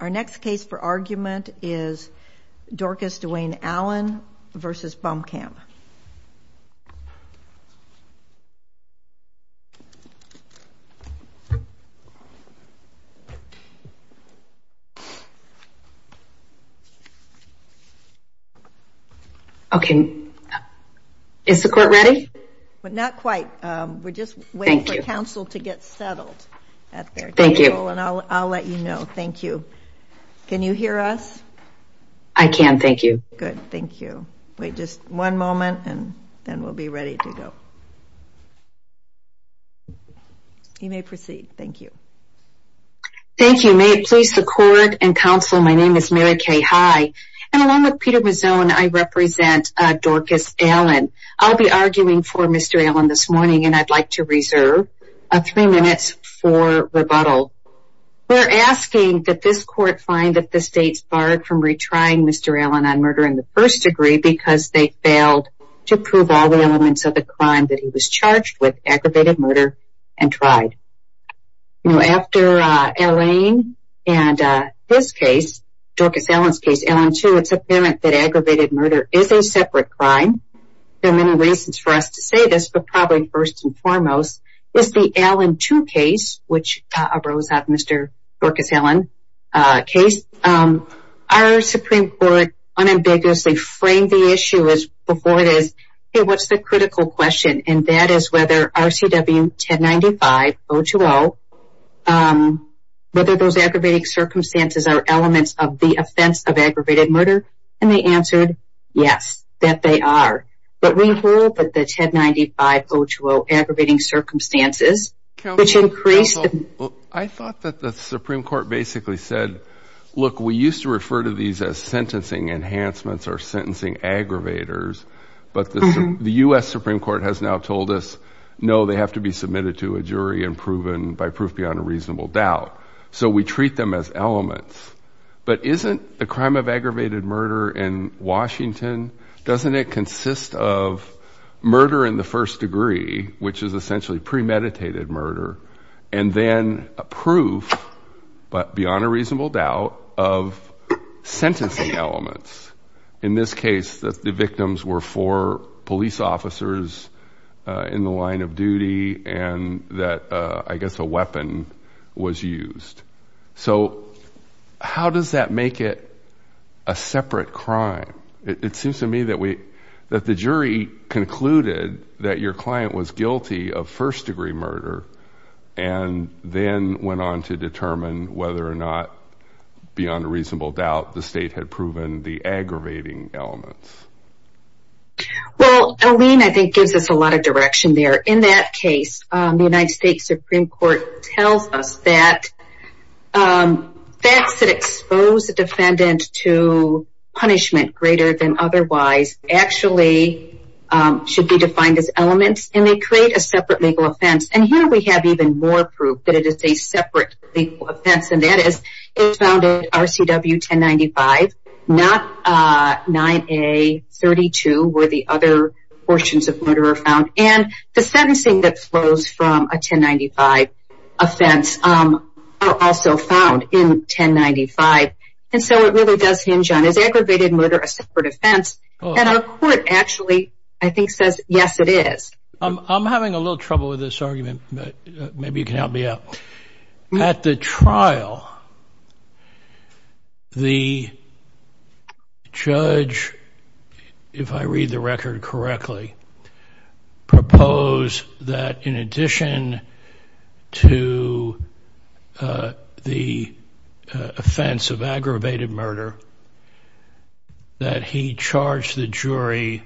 Our next case for argument is Dorcus Dwayne Allen v. Bomkamp. Okay. Is the court ready? Not quite. We're just waiting for counsel to get settled. Thank you. I'll let you know. Thank you. Can you hear us? I can. Thank you. Good. Thank you. Wait just one moment and then we'll be ready to go. You may proceed. Thank you. Thank you. May it please the court and counsel, my name is Mary Kay High. And along with Peter Mazzone, I represent Dorcus Allen. I'll be arguing for Mr. Allen this morning and I'd like to reserve three minutes for rebuttal. We're asking that this court find that the state's barred from retrying Mr. Allen on murder in the first degree because they failed to prove all the elements of the crime that he was charged with, aggravated murder, and tried. After Elaine and his case, Dorcus Allen's case, Allen 2, it's apparent that aggravated murder is a separate crime. There are many reasons for us to say this, but probably first and foremost is the Allen 2 case, which arose out of Mr. Dorcus Allen's case. Our Supreme Court unambiguously framed the issue as before it is, Okay, what's the critical question? And that is whether RCW 1095-020, whether those aggravating circumstances are elements of the offense of aggravated murder? And they answered, yes, that they are. But we hold that the 1095-020 aggravating circumstances, which increased... I thought that the Supreme Court basically said, look, we used to refer to these as sentencing enhancements or sentencing aggravators. But the U.S. Supreme Court has now told us, no, they have to be submitted to a jury and proven by proof beyond a reasonable doubt. So we treat them as elements. But isn't the crime of aggravated murder in Washington, doesn't it consist of murder in the first degree, which is essentially premeditated murder, and then a proof, but beyond a reasonable doubt, of sentencing elements? In this case, the victims were four police officers in the line of duty and that, I guess, a weapon was used. So how does that make it a separate crime? It seems to me that the jury concluded that your client was guilty of first degree murder and then went on to determine whether or not, beyond a reasonable doubt, the state had proven the aggravating elements. Well, Aline, I think, gives us a lot of direction there. In that case, the United States Supreme Court tells us that facts that expose a defendant to punishment greater than otherwise actually should be defined as elements and they create a separate legal offense. And here we have even more proof that it is a separate legal offense. And that is, it's found in RCW 1095, not 9A32, where the other portions of murder are found. And the sentencing that flows from a 1095 offense are also found in 1095. And so it really does hinge on, is aggravated murder a separate offense? And our court actually, I think, says, yes, it is. I'm having a little trouble with this argument, but maybe you can help me out. At the trial, the judge, if I read the record correctly, proposed that in addition to the offense of aggravated murder, that he charged the jury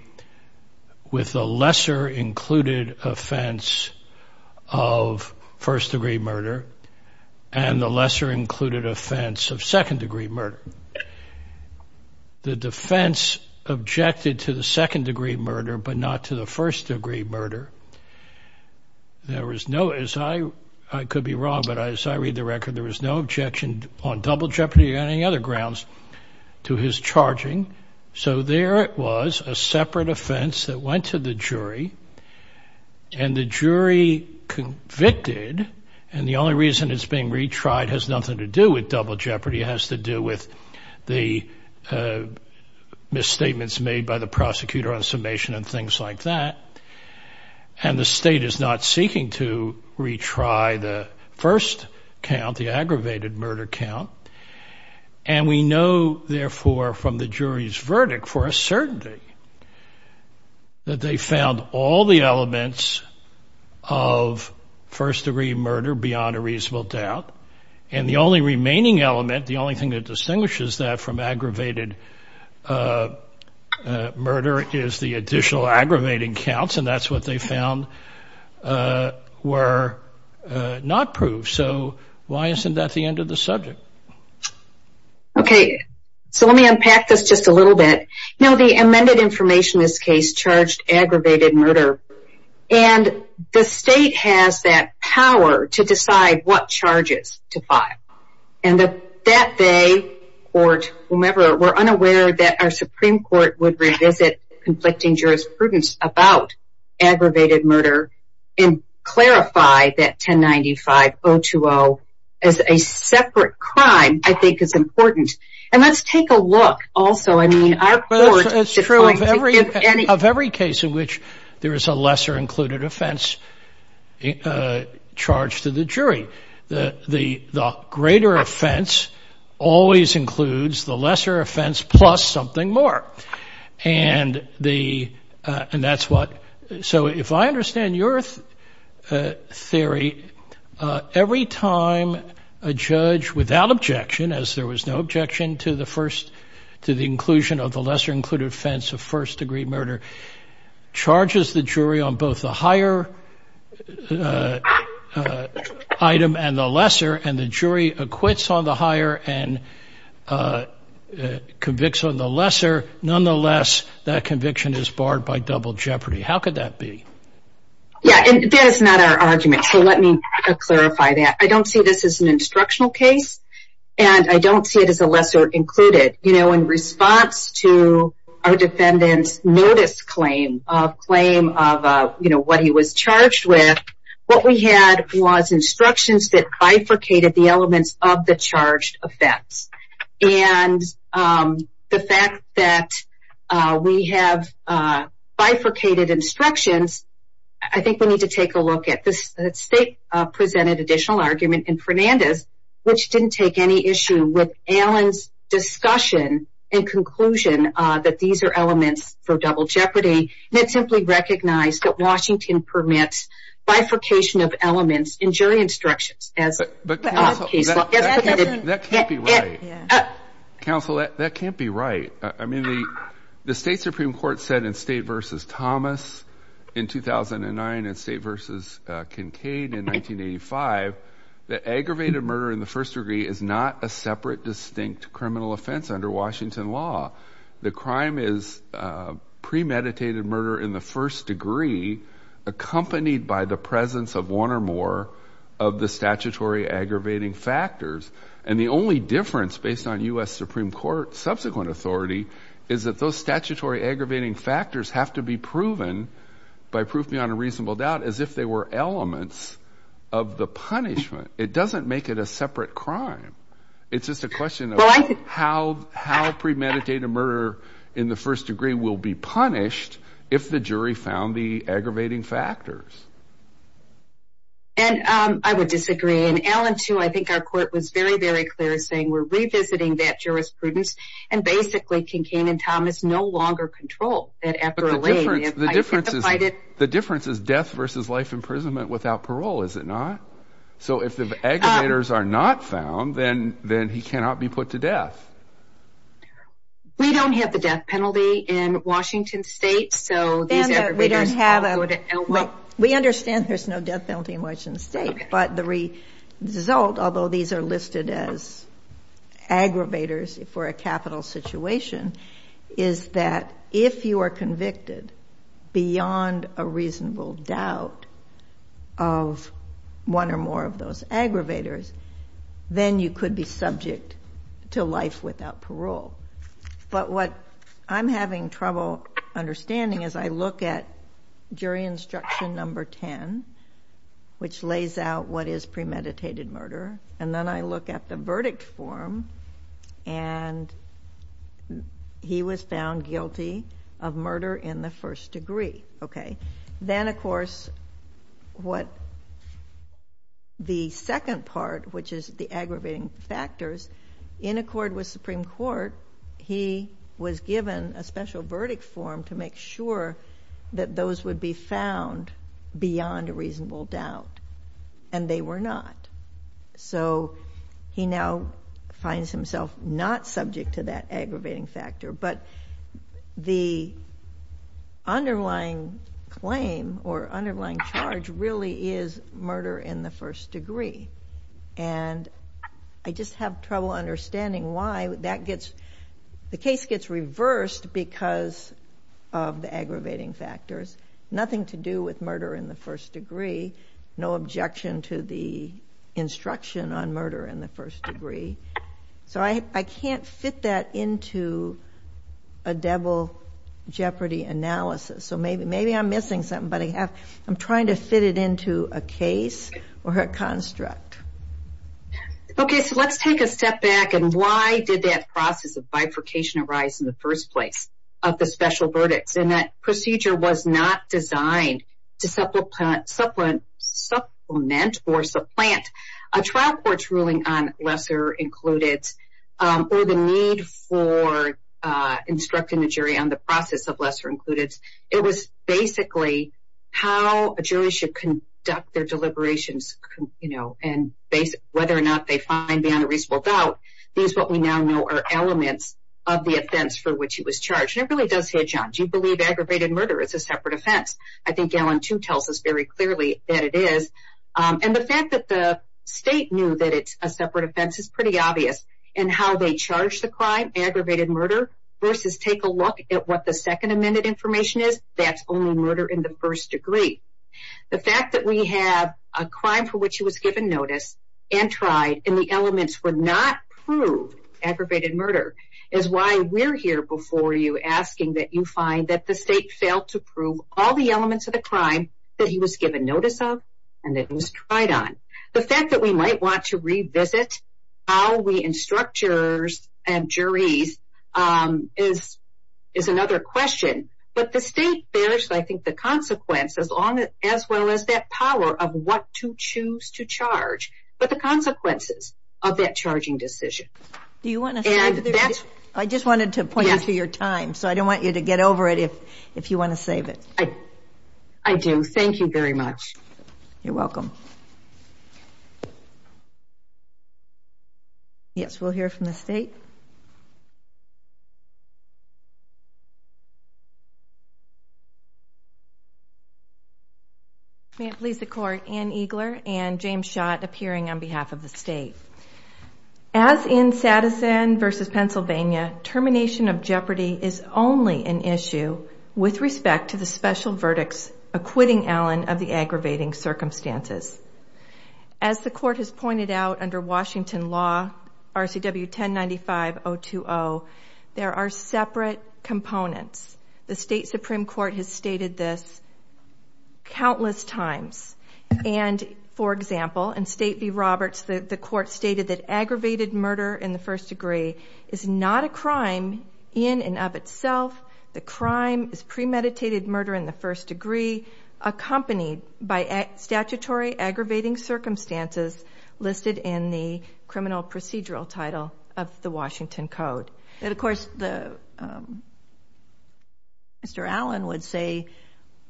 with a lesser included offense of first-degree murder and the lesser included offense of second-degree murder. The defense objected to the second-degree murder, but not to the first-degree murder. There was no, as I, I could be wrong, but as I read the record, there was no objection on double jeopardy or any other grounds to his charging. So there it was, a separate offense that went to the jury and the jury convicted. And the only reason it's being retried has nothing to do with double jeopardy. It has to do with the misstatements made by the prosecutor on summation and things like that. And the state is not seeking to retry the first count, the aggravated murder count. And we know, therefore, from the jury's verdict for a certainty, that they found all the elements of first-degree murder beyond a reasonable doubt. And the only remaining element, the only thing that distinguishes that from aggravated murder, is the additional aggravating counts. And that's what they found were not proved. So why isn't that the end of the subject? Okay, so let me unpack this just a little bit. Now, the amended information in this case charged aggravated murder. And the state has that power to decide what charges to file. And that they, court, whomever, were unaware that our Supreme Court would revisit conflicting jurisprudence about aggravated murder and clarify that 1095-020 as a separate crime, I think is important. And let's take a look, also. I mean, our court... It's true. Of every case in which there is a lesser-included offense charged to the jury, the greater offense always includes the lesser offense plus something more. And that's what... So if I understand your theory, every time a judge, without objection, as there was no objection to the inclusion of the lesser-included offense of first-degree murder, charges the jury on both the higher item and the lesser, and the jury acquits on the higher and convicts on the lesser, nonetheless, that conviction is barred by double jeopardy. How could that be? Yeah, and that is not our argument, so let me clarify that. I don't see this as an instructional case, and I don't see it as a lesser-included. In response to our defendant's notice claim of what he was charged with, what we had was instructions that bifurcated the elements of the charged offense. And the fact that we have bifurcated instructions, I think we need to take a look at this. The state presented additional argument in Fernandez, which didn't take any issue with Allen's discussion and conclusion that these are elements for double jeopardy, and it simply recognized that Washington permits bifurcation of elements in jury instructions. But counsel, that can't be right. Counsel, that can't be right. I mean, the state Supreme Court said in State v. Thomas in 2009 and State v. Kincaid in 1985 that aggravated murder in the first degree is not a separate, distinct criminal offense under Washington law. The crime is premeditated murder in the first degree accompanied by the presence of one or more of the statutory aggravating factors. And the only difference, based on U.S. Supreme Court subsequent authority, by proof beyond a reasonable doubt, is if they were elements of the punishment. It doesn't make it a separate crime. It's just a question of how premeditated murder in the first degree will be punished if the jury found the aggravating factors. And I would disagree. And Allen, too, I think our court was very, very clear, saying we're revisiting that jurisprudence, and basically Kincaid and Thomas no longer control that after a layman. The difference is death v. life imprisonment without parole, is it not? So if the aggravators are not found, then he cannot be put to death. We don't have the death penalty in Washington state, so these aggravators would help. We understand there's no death penalty in Washington state, but the result, although these are listed as aggravators for a capital situation, is that if you are convicted beyond a reasonable doubt of one or more of those aggravators, then you could be subject to life without parole. But what I'm having trouble understanding is I look at jury instruction number 10, which lays out what is premeditated murder, and then I look at the verdict form, and he was found guilty of murder in the first degree. Then, of course, the second part, which is the aggravating factors, in accord with Supreme Court, he was given a special verdict form to make sure that those would be found beyond a reasonable doubt, and they were not. So he now finds himself not subject to that aggravating factor, but the underlying claim or underlying charge really is murder in the first degree, and I just have trouble understanding why the case gets reversed because of the aggravating factors. Nothing to do with murder in the first degree. No objection to the instruction on murder in the first degree. So I can't fit that into a devil-jeopardy analysis, so maybe I'm missing something, but I'm trying to fit it into a case or a construct. Okay, so let's take a step back, and why did that process of bifurcation arise in the first place of the special verdicts? And that procedure was not designed to supplement or supplant a trial court's ruling on lesser included or the need for instructing the jury on the process of lesser included. It was basically how a jury should conduct their deliberations, and whether or not they find beyond a reasonable doubt. These, what we now know, are elements of the offense for which he was charged. It really does hit you, John. Do you believe aggravated murder is a separate offense? I think Allen too tells us very clearly that it is, and the fact that the state knew that it's a separate offense is pretty obvious, and how they charge the crime, aggravated murder, versus take a look at what the second amended information is, that's only murder in the first degree. The fact that we have a crime for which he was given notice and tried, and the elements were not proved, aggravated murder, is why we're here before you asking that you find that the state failed to prove all the elements of the crime that he was given notice of and that he was tried on. The fact that we might want to revisit how we instruct jurors and juries is another question, but the state bears, I think, the consequence as well as that power of what to choose to charge, but the consequences of that charging decision. I just wanted to point you to your time, so I don't want you to get over it if you want to save it. I do. Thank you very much. You're welcome. Yes, we'll hear from the state. May it please the Court, Ann Eagler and James Schott appearing on behalf of the state. As in Sadison v. Pennsylvania, termination of jeopardy is only an issue with respect to the special verdicts acquitting Allen of the aggravating circumstances. As the Court has pointed out under Washington law, RCW 1095.020, there are separate components. The state Supreme Court has stated this countless times, and, for example, in State v. Roberts, the Court stated that aggravated murder in the first degree is not a crime in and of itself. The crime is premeditated murder in the first degree accompanied by statutory aggravating circumstances listed in the criminal procedural title of the Washington Code. And, of course, Mr. Allen would say,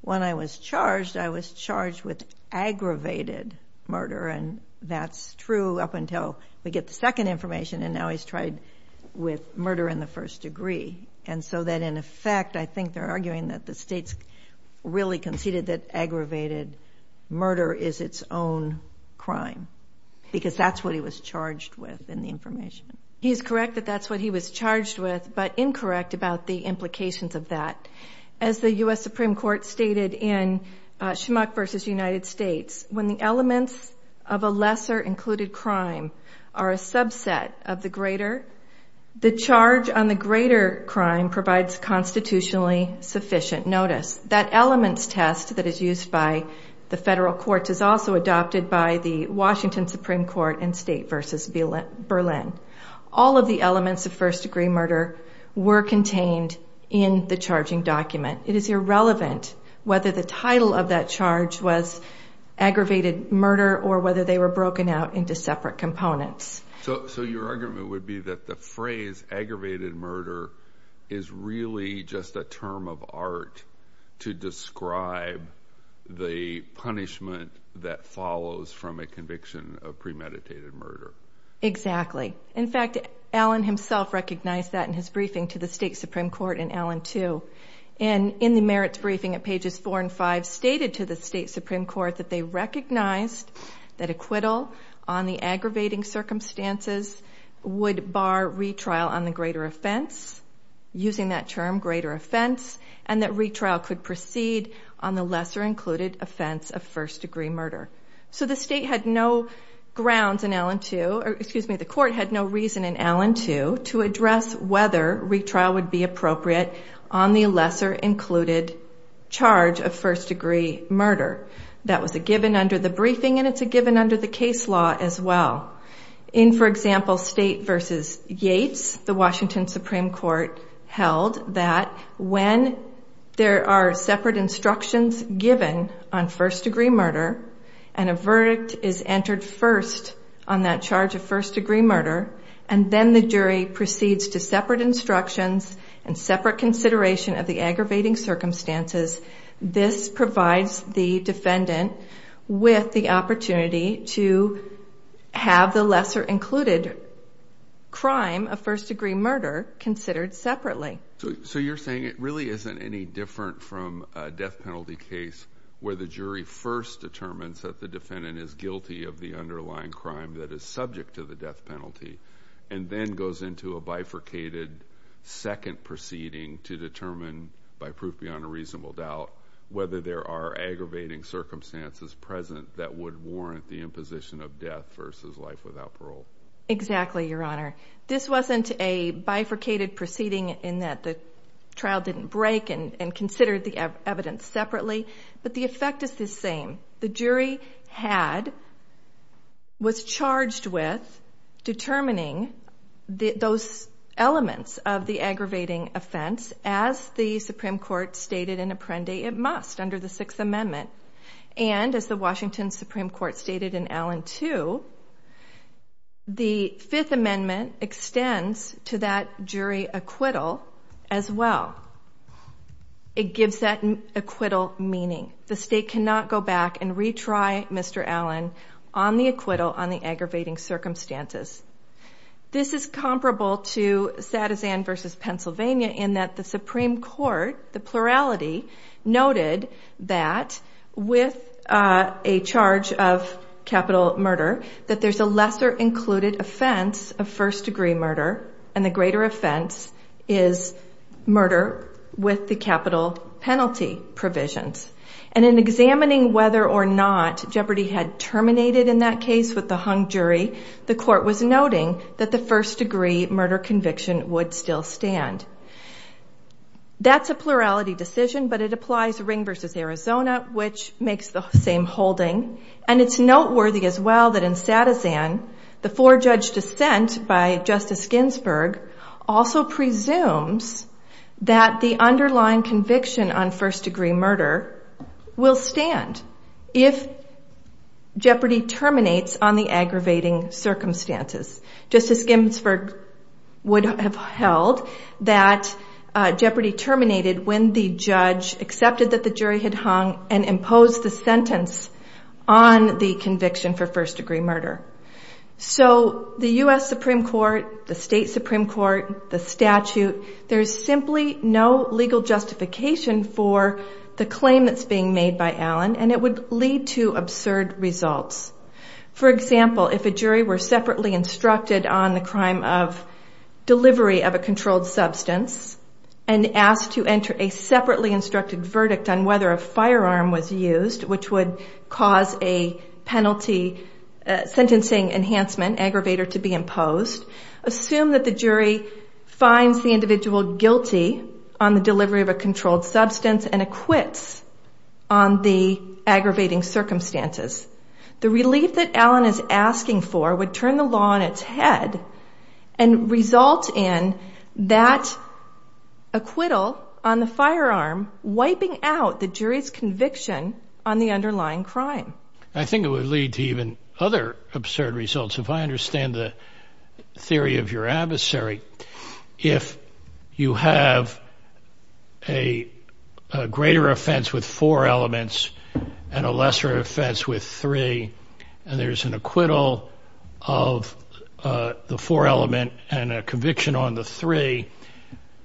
when I was charged, I was charged with aggravated murder, and that's true up until we get the second information, and now he's tried with murder in the first degree. And so then, in effect, I think they're arguing that the state's really conceded that aggravated murder is its own crime because that's what he was charged with in the information. He's correct that that's what he was charged with, but incorrect about the implications of that. As the U.S. Supreme Court stated in Schmuck v. United States, when the elements of a lesser included crime are a subset of the greater, the charge on the greater crime provides constitutionally sufficient notice. That elements test that is used by the federal courts is also adopted by the Washington Supreme Court in State v. Berlin. All of the elements of first-degree murder were contained in the charging document. It is irrelevant whether the title of that charge was aggravated murder or whether they were broken out into separate components. So your argument would be that the phrase aggravated murder is really just a term of art to describe the punishment that follows from a conviction of premeditated murder. Exactly. In fact, Allen himself recognized that in his briefing to the State Supreme Court in Allen 2. And in the merits briefing at pages 4 and 5, stated to the State Supreme Court that they recognized that acquittal on the aggravating circumstances would bar retrial on the greater offense, using that term greater offense, and that retrial could proceed on the lesser included offense of first-degree murder. So the State had no grounds in Allen 2, or excuse me, the court had no reason in Allen 2 to address whether retrial would be appropriate on the lesser included charge of first-degree murder. That was a given under the briefing, and it's a given under the case law as well. In, for example, State v. Yates, the Washington Supreme Court held that when there are separate instructions given on first-degree murder, and a verdict is entered first on that charge of first-degree murder, and then the jury proceeds to separate instructions and separate consideration of the aggravating circumstances, this provides the defendant with the opportunity to have the lesser included crime of first-degree murder considered separately. So you're saying it really isn't any different from a death penalty case where the jury first determines that the defendant is guilty of the underlying crime that is subject to the death penalty, and then goes into a bifurcated second proceeding to determine, by proof beyond a reasonable doubt, whether there are aggravating circumstances present that would warrant the imposition of death versus life without parole. Exactly, Your Honor. This wasn't a bifurcated proceeding in that the trial didn't break and consider the evidence separately, but the effect is the same. The jury was charged with determining those elements of the aggravating offense, as the Supreme Court stated in Apprendi, it must under the Sixth Amendment. And as the Washington Supreme Court stated in Allen 2, the Fifth Amendment extends to that jury acquittal as well. It gives that acquittal meaning. The State cannot go back and retry Mr. Allen on the acquittal on the aggravating circumstances. This is comparable to Sadezan v. Pennsylvania in that the Supreme Court, the plurality, noted that with a charge of capital murder, that there's a lesser included offense of first-degree murder, and the greater offense is murder with the capital penalty provisions. And in examining whether or not Jeopardy had terminated in that case with the hung jury, the court was noting that the first-degree murder conviction would still stand. That's a plurality decision, but it applies to Ring v. Arizona, which makes the same holding. And it's noteworthy as well that in Sadezan, the four-judge dissent by Justice Ginsburg also presumes that the underlying conviction on first-degree murder will stand if Jeopardy terminates on the aggravating circumstances. Justice Ginsburg would have held that Jeopardy terminated when the judge accepted that the jury had hung and imposed the sentence on the conviction for first-degree murder. So the U.S. Supreme Court, the State Supreme Court, the statute, there's simply no legal justification for the claim that's being made by Allen, and it would lead to absurd results. For example, if a jury were separately instructed on the crime of delivery of a controlled substance and asked to enter a separately instructed verdict on whether a firearm was used, which would cause a penalty sentencing enhancement aggravator to be imposed, assume that the jury finds the individual guilty on the delivery of a controlled substance and acquits on the aggravating circumstances, the relief that Allen is asking for would turn the law on its head and result in that acquittal on the firearm wiping out the jury's conviction on the underlying crime. I think it would lead to even other absurd results. If I understand the theory of your adversary, if you have a greater offense with four elements and a lesser offense with three, and there's an acquittal of the four element and a conviction on the three,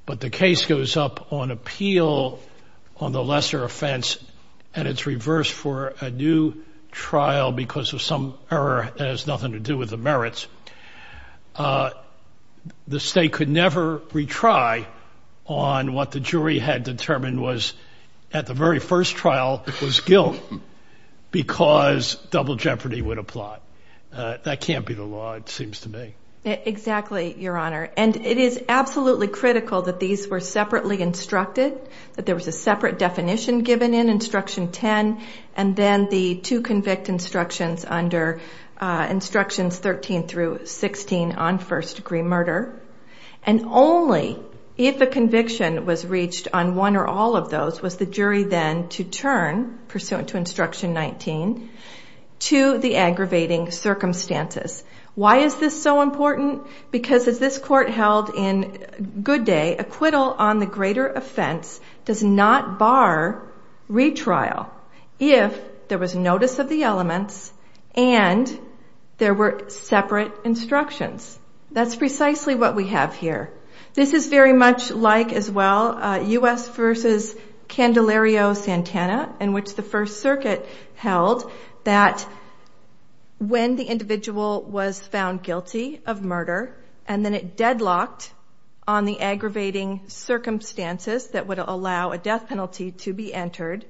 but the case goes up on appeal on the lesser offense, and it's reversed for a new trial because of some error that has nothing to do with the merits, the state could never retry on what the jury had determined was, at the very first trial, was guilt because double jeopardy would apply. That can't be the law, it seems to me. Exactly, Your Honor. And it is absolutely critical that these were separately instructed, that there was a separate definition given in Instruction 10, and then the two convict instructions under Instructions 13 through 16 on first-degree murder, and only if a conviction was reached on one or all of those was the jury then to turn, pursuant to Instruction 19, to the aggravating circumstances. Why is this so important? Because as this Court held in Good Day, acquittal on the greater offense does not bar retrial if there was notice of the elements and there were separate instructions. That's precisely what we have here. This is very much like, as well, U.S. v. Candelario-Santana, in which the First Circuit held that when the individual was found guilty of murder and then it deadlocked on the aggravating circumstances that would allow a death penalty to be entered,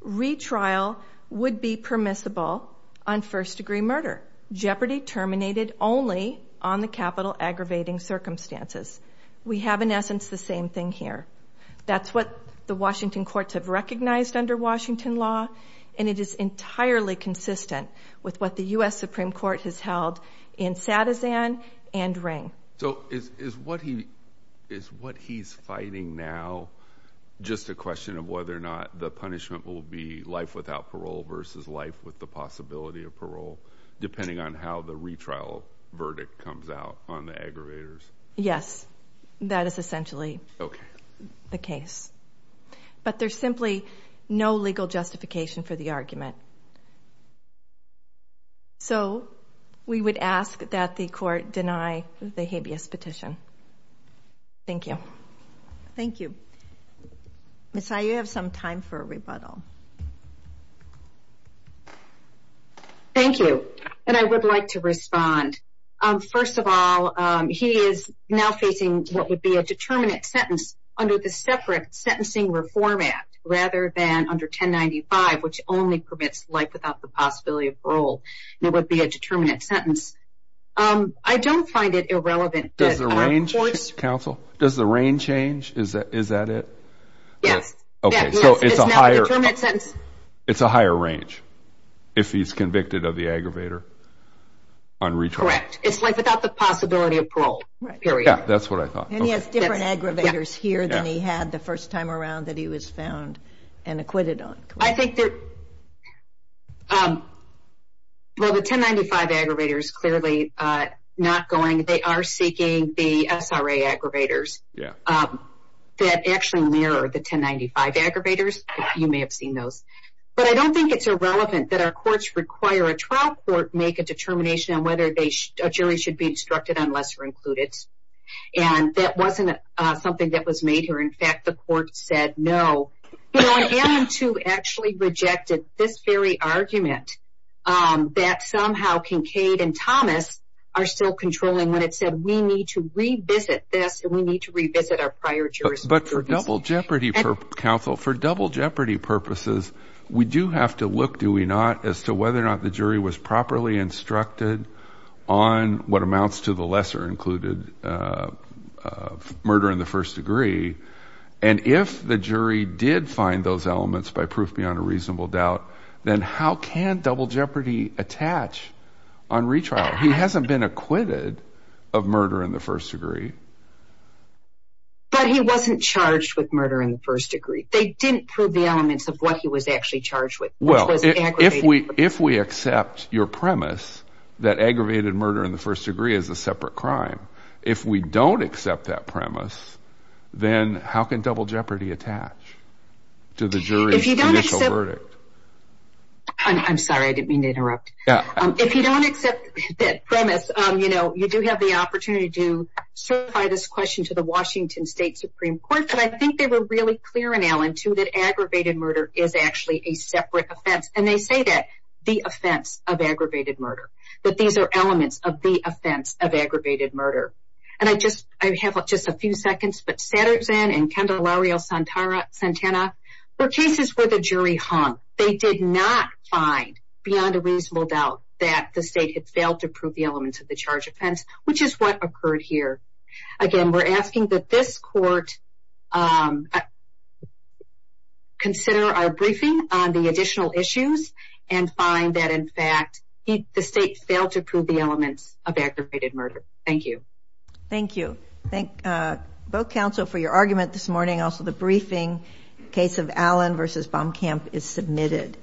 retrial would be permissible on first-degree murder. Jeopardy terminated only on the capital aggravating circumstances. We have, in essence, the same thing here. That's what the Washington courts have recognized under Washington law, and it is entirely consistent with what the U.S. Supreme Court has held in Satizan and Ring. So is what he's fighting now just a question of whether or not the punishment will be life without parole versus life with the possibility of parole, depending on how the retrial verdict comes out on the aggravators? Yes, that is essentially. Okay. The case. But there's simply no legal justification for the argument. So we would ask that the court deny the habeas petition. Thank you. Thank you. Ms. Ayew, you have some time for a rebuttal. Thank you, and I would like to respond. First of all, he is now facing what would be a determinate sentence under the separate Sentencing Reform Act rather than under 1095, which only permits life without the possibility of parole. It would be a determinate sentence. I don't find it irrelevant. Does the range, counsel, does the range change? Is that it? Okay. So it's a higher. It's now a determinate sentence. It's a higher range if he's convicted of the aggravator on retrial. Correct. It's life without the possibility of parole, period. Yeah, that's what I thought. And he has different aggravators here than he had the first time around that he was found and acquitted on. I think that, well, the 1095 aggravators clearly not going. They are seeking the SRA aggravators that actually mirror the 1095 aggravators. You may have seen those. But I don't think it's irrelevant that our courts require a trial court make a determination on whether a jury should be instructed on lesser included. And that wasn't something that was made here. In fact, the court said no. You know, I am to actually reject this very argument that somehow Kincaid and Thomas are still controlling when it said we need to revisit this and we need to revisit our prior jurors. But for double jeopardy counsel, for double jeopardy purposes, we do have to look, do we not, as to whether or not the jury was properly instructed on what amounts to the lesser included murder in the first degree. And if the jury did find those elements by proof beyond a reasonable doubt, then how can double jeopardy attach on retrial? He hasn't been acquitted of murder in the first degree. But he wasn't charged with murder in the first degree. They didn't prove the elements of what he was actually charged with, which was aggravated murder. Well, if we accept your premise that aggravated murder in the first degree is a separate crime, if we don't accept that premise, then how can double jeopardy attach to the jury's judicial verdict? I'm sorry. I didn't mean to interrupt. If you don't accept that premise, you know, you do have the opportunity to certify this question to the Washington State Supreme Court. But I think they were really clear in Allen, too, that aggravated murder is actually a separate offense. And they say that the offense of aggravated murder, that these are elements of the offense of aggravated murder. And I have just a few seconds. But Satterzan and Candelario Santana were cases where the jury hung. They did not find, beyond a reasonable doubt, that the state had failed to prove the elements of the charge offense, which is what occurred here. Again, we're asking that this court consider our briefing on the additional issues and find that, in fact, the state failed to prove the elements of aggravated murder. Thank you. Thank you. Thank both counsel for your argument this morning. Also, the briefing case of Allen v. Baumkamp is submitted.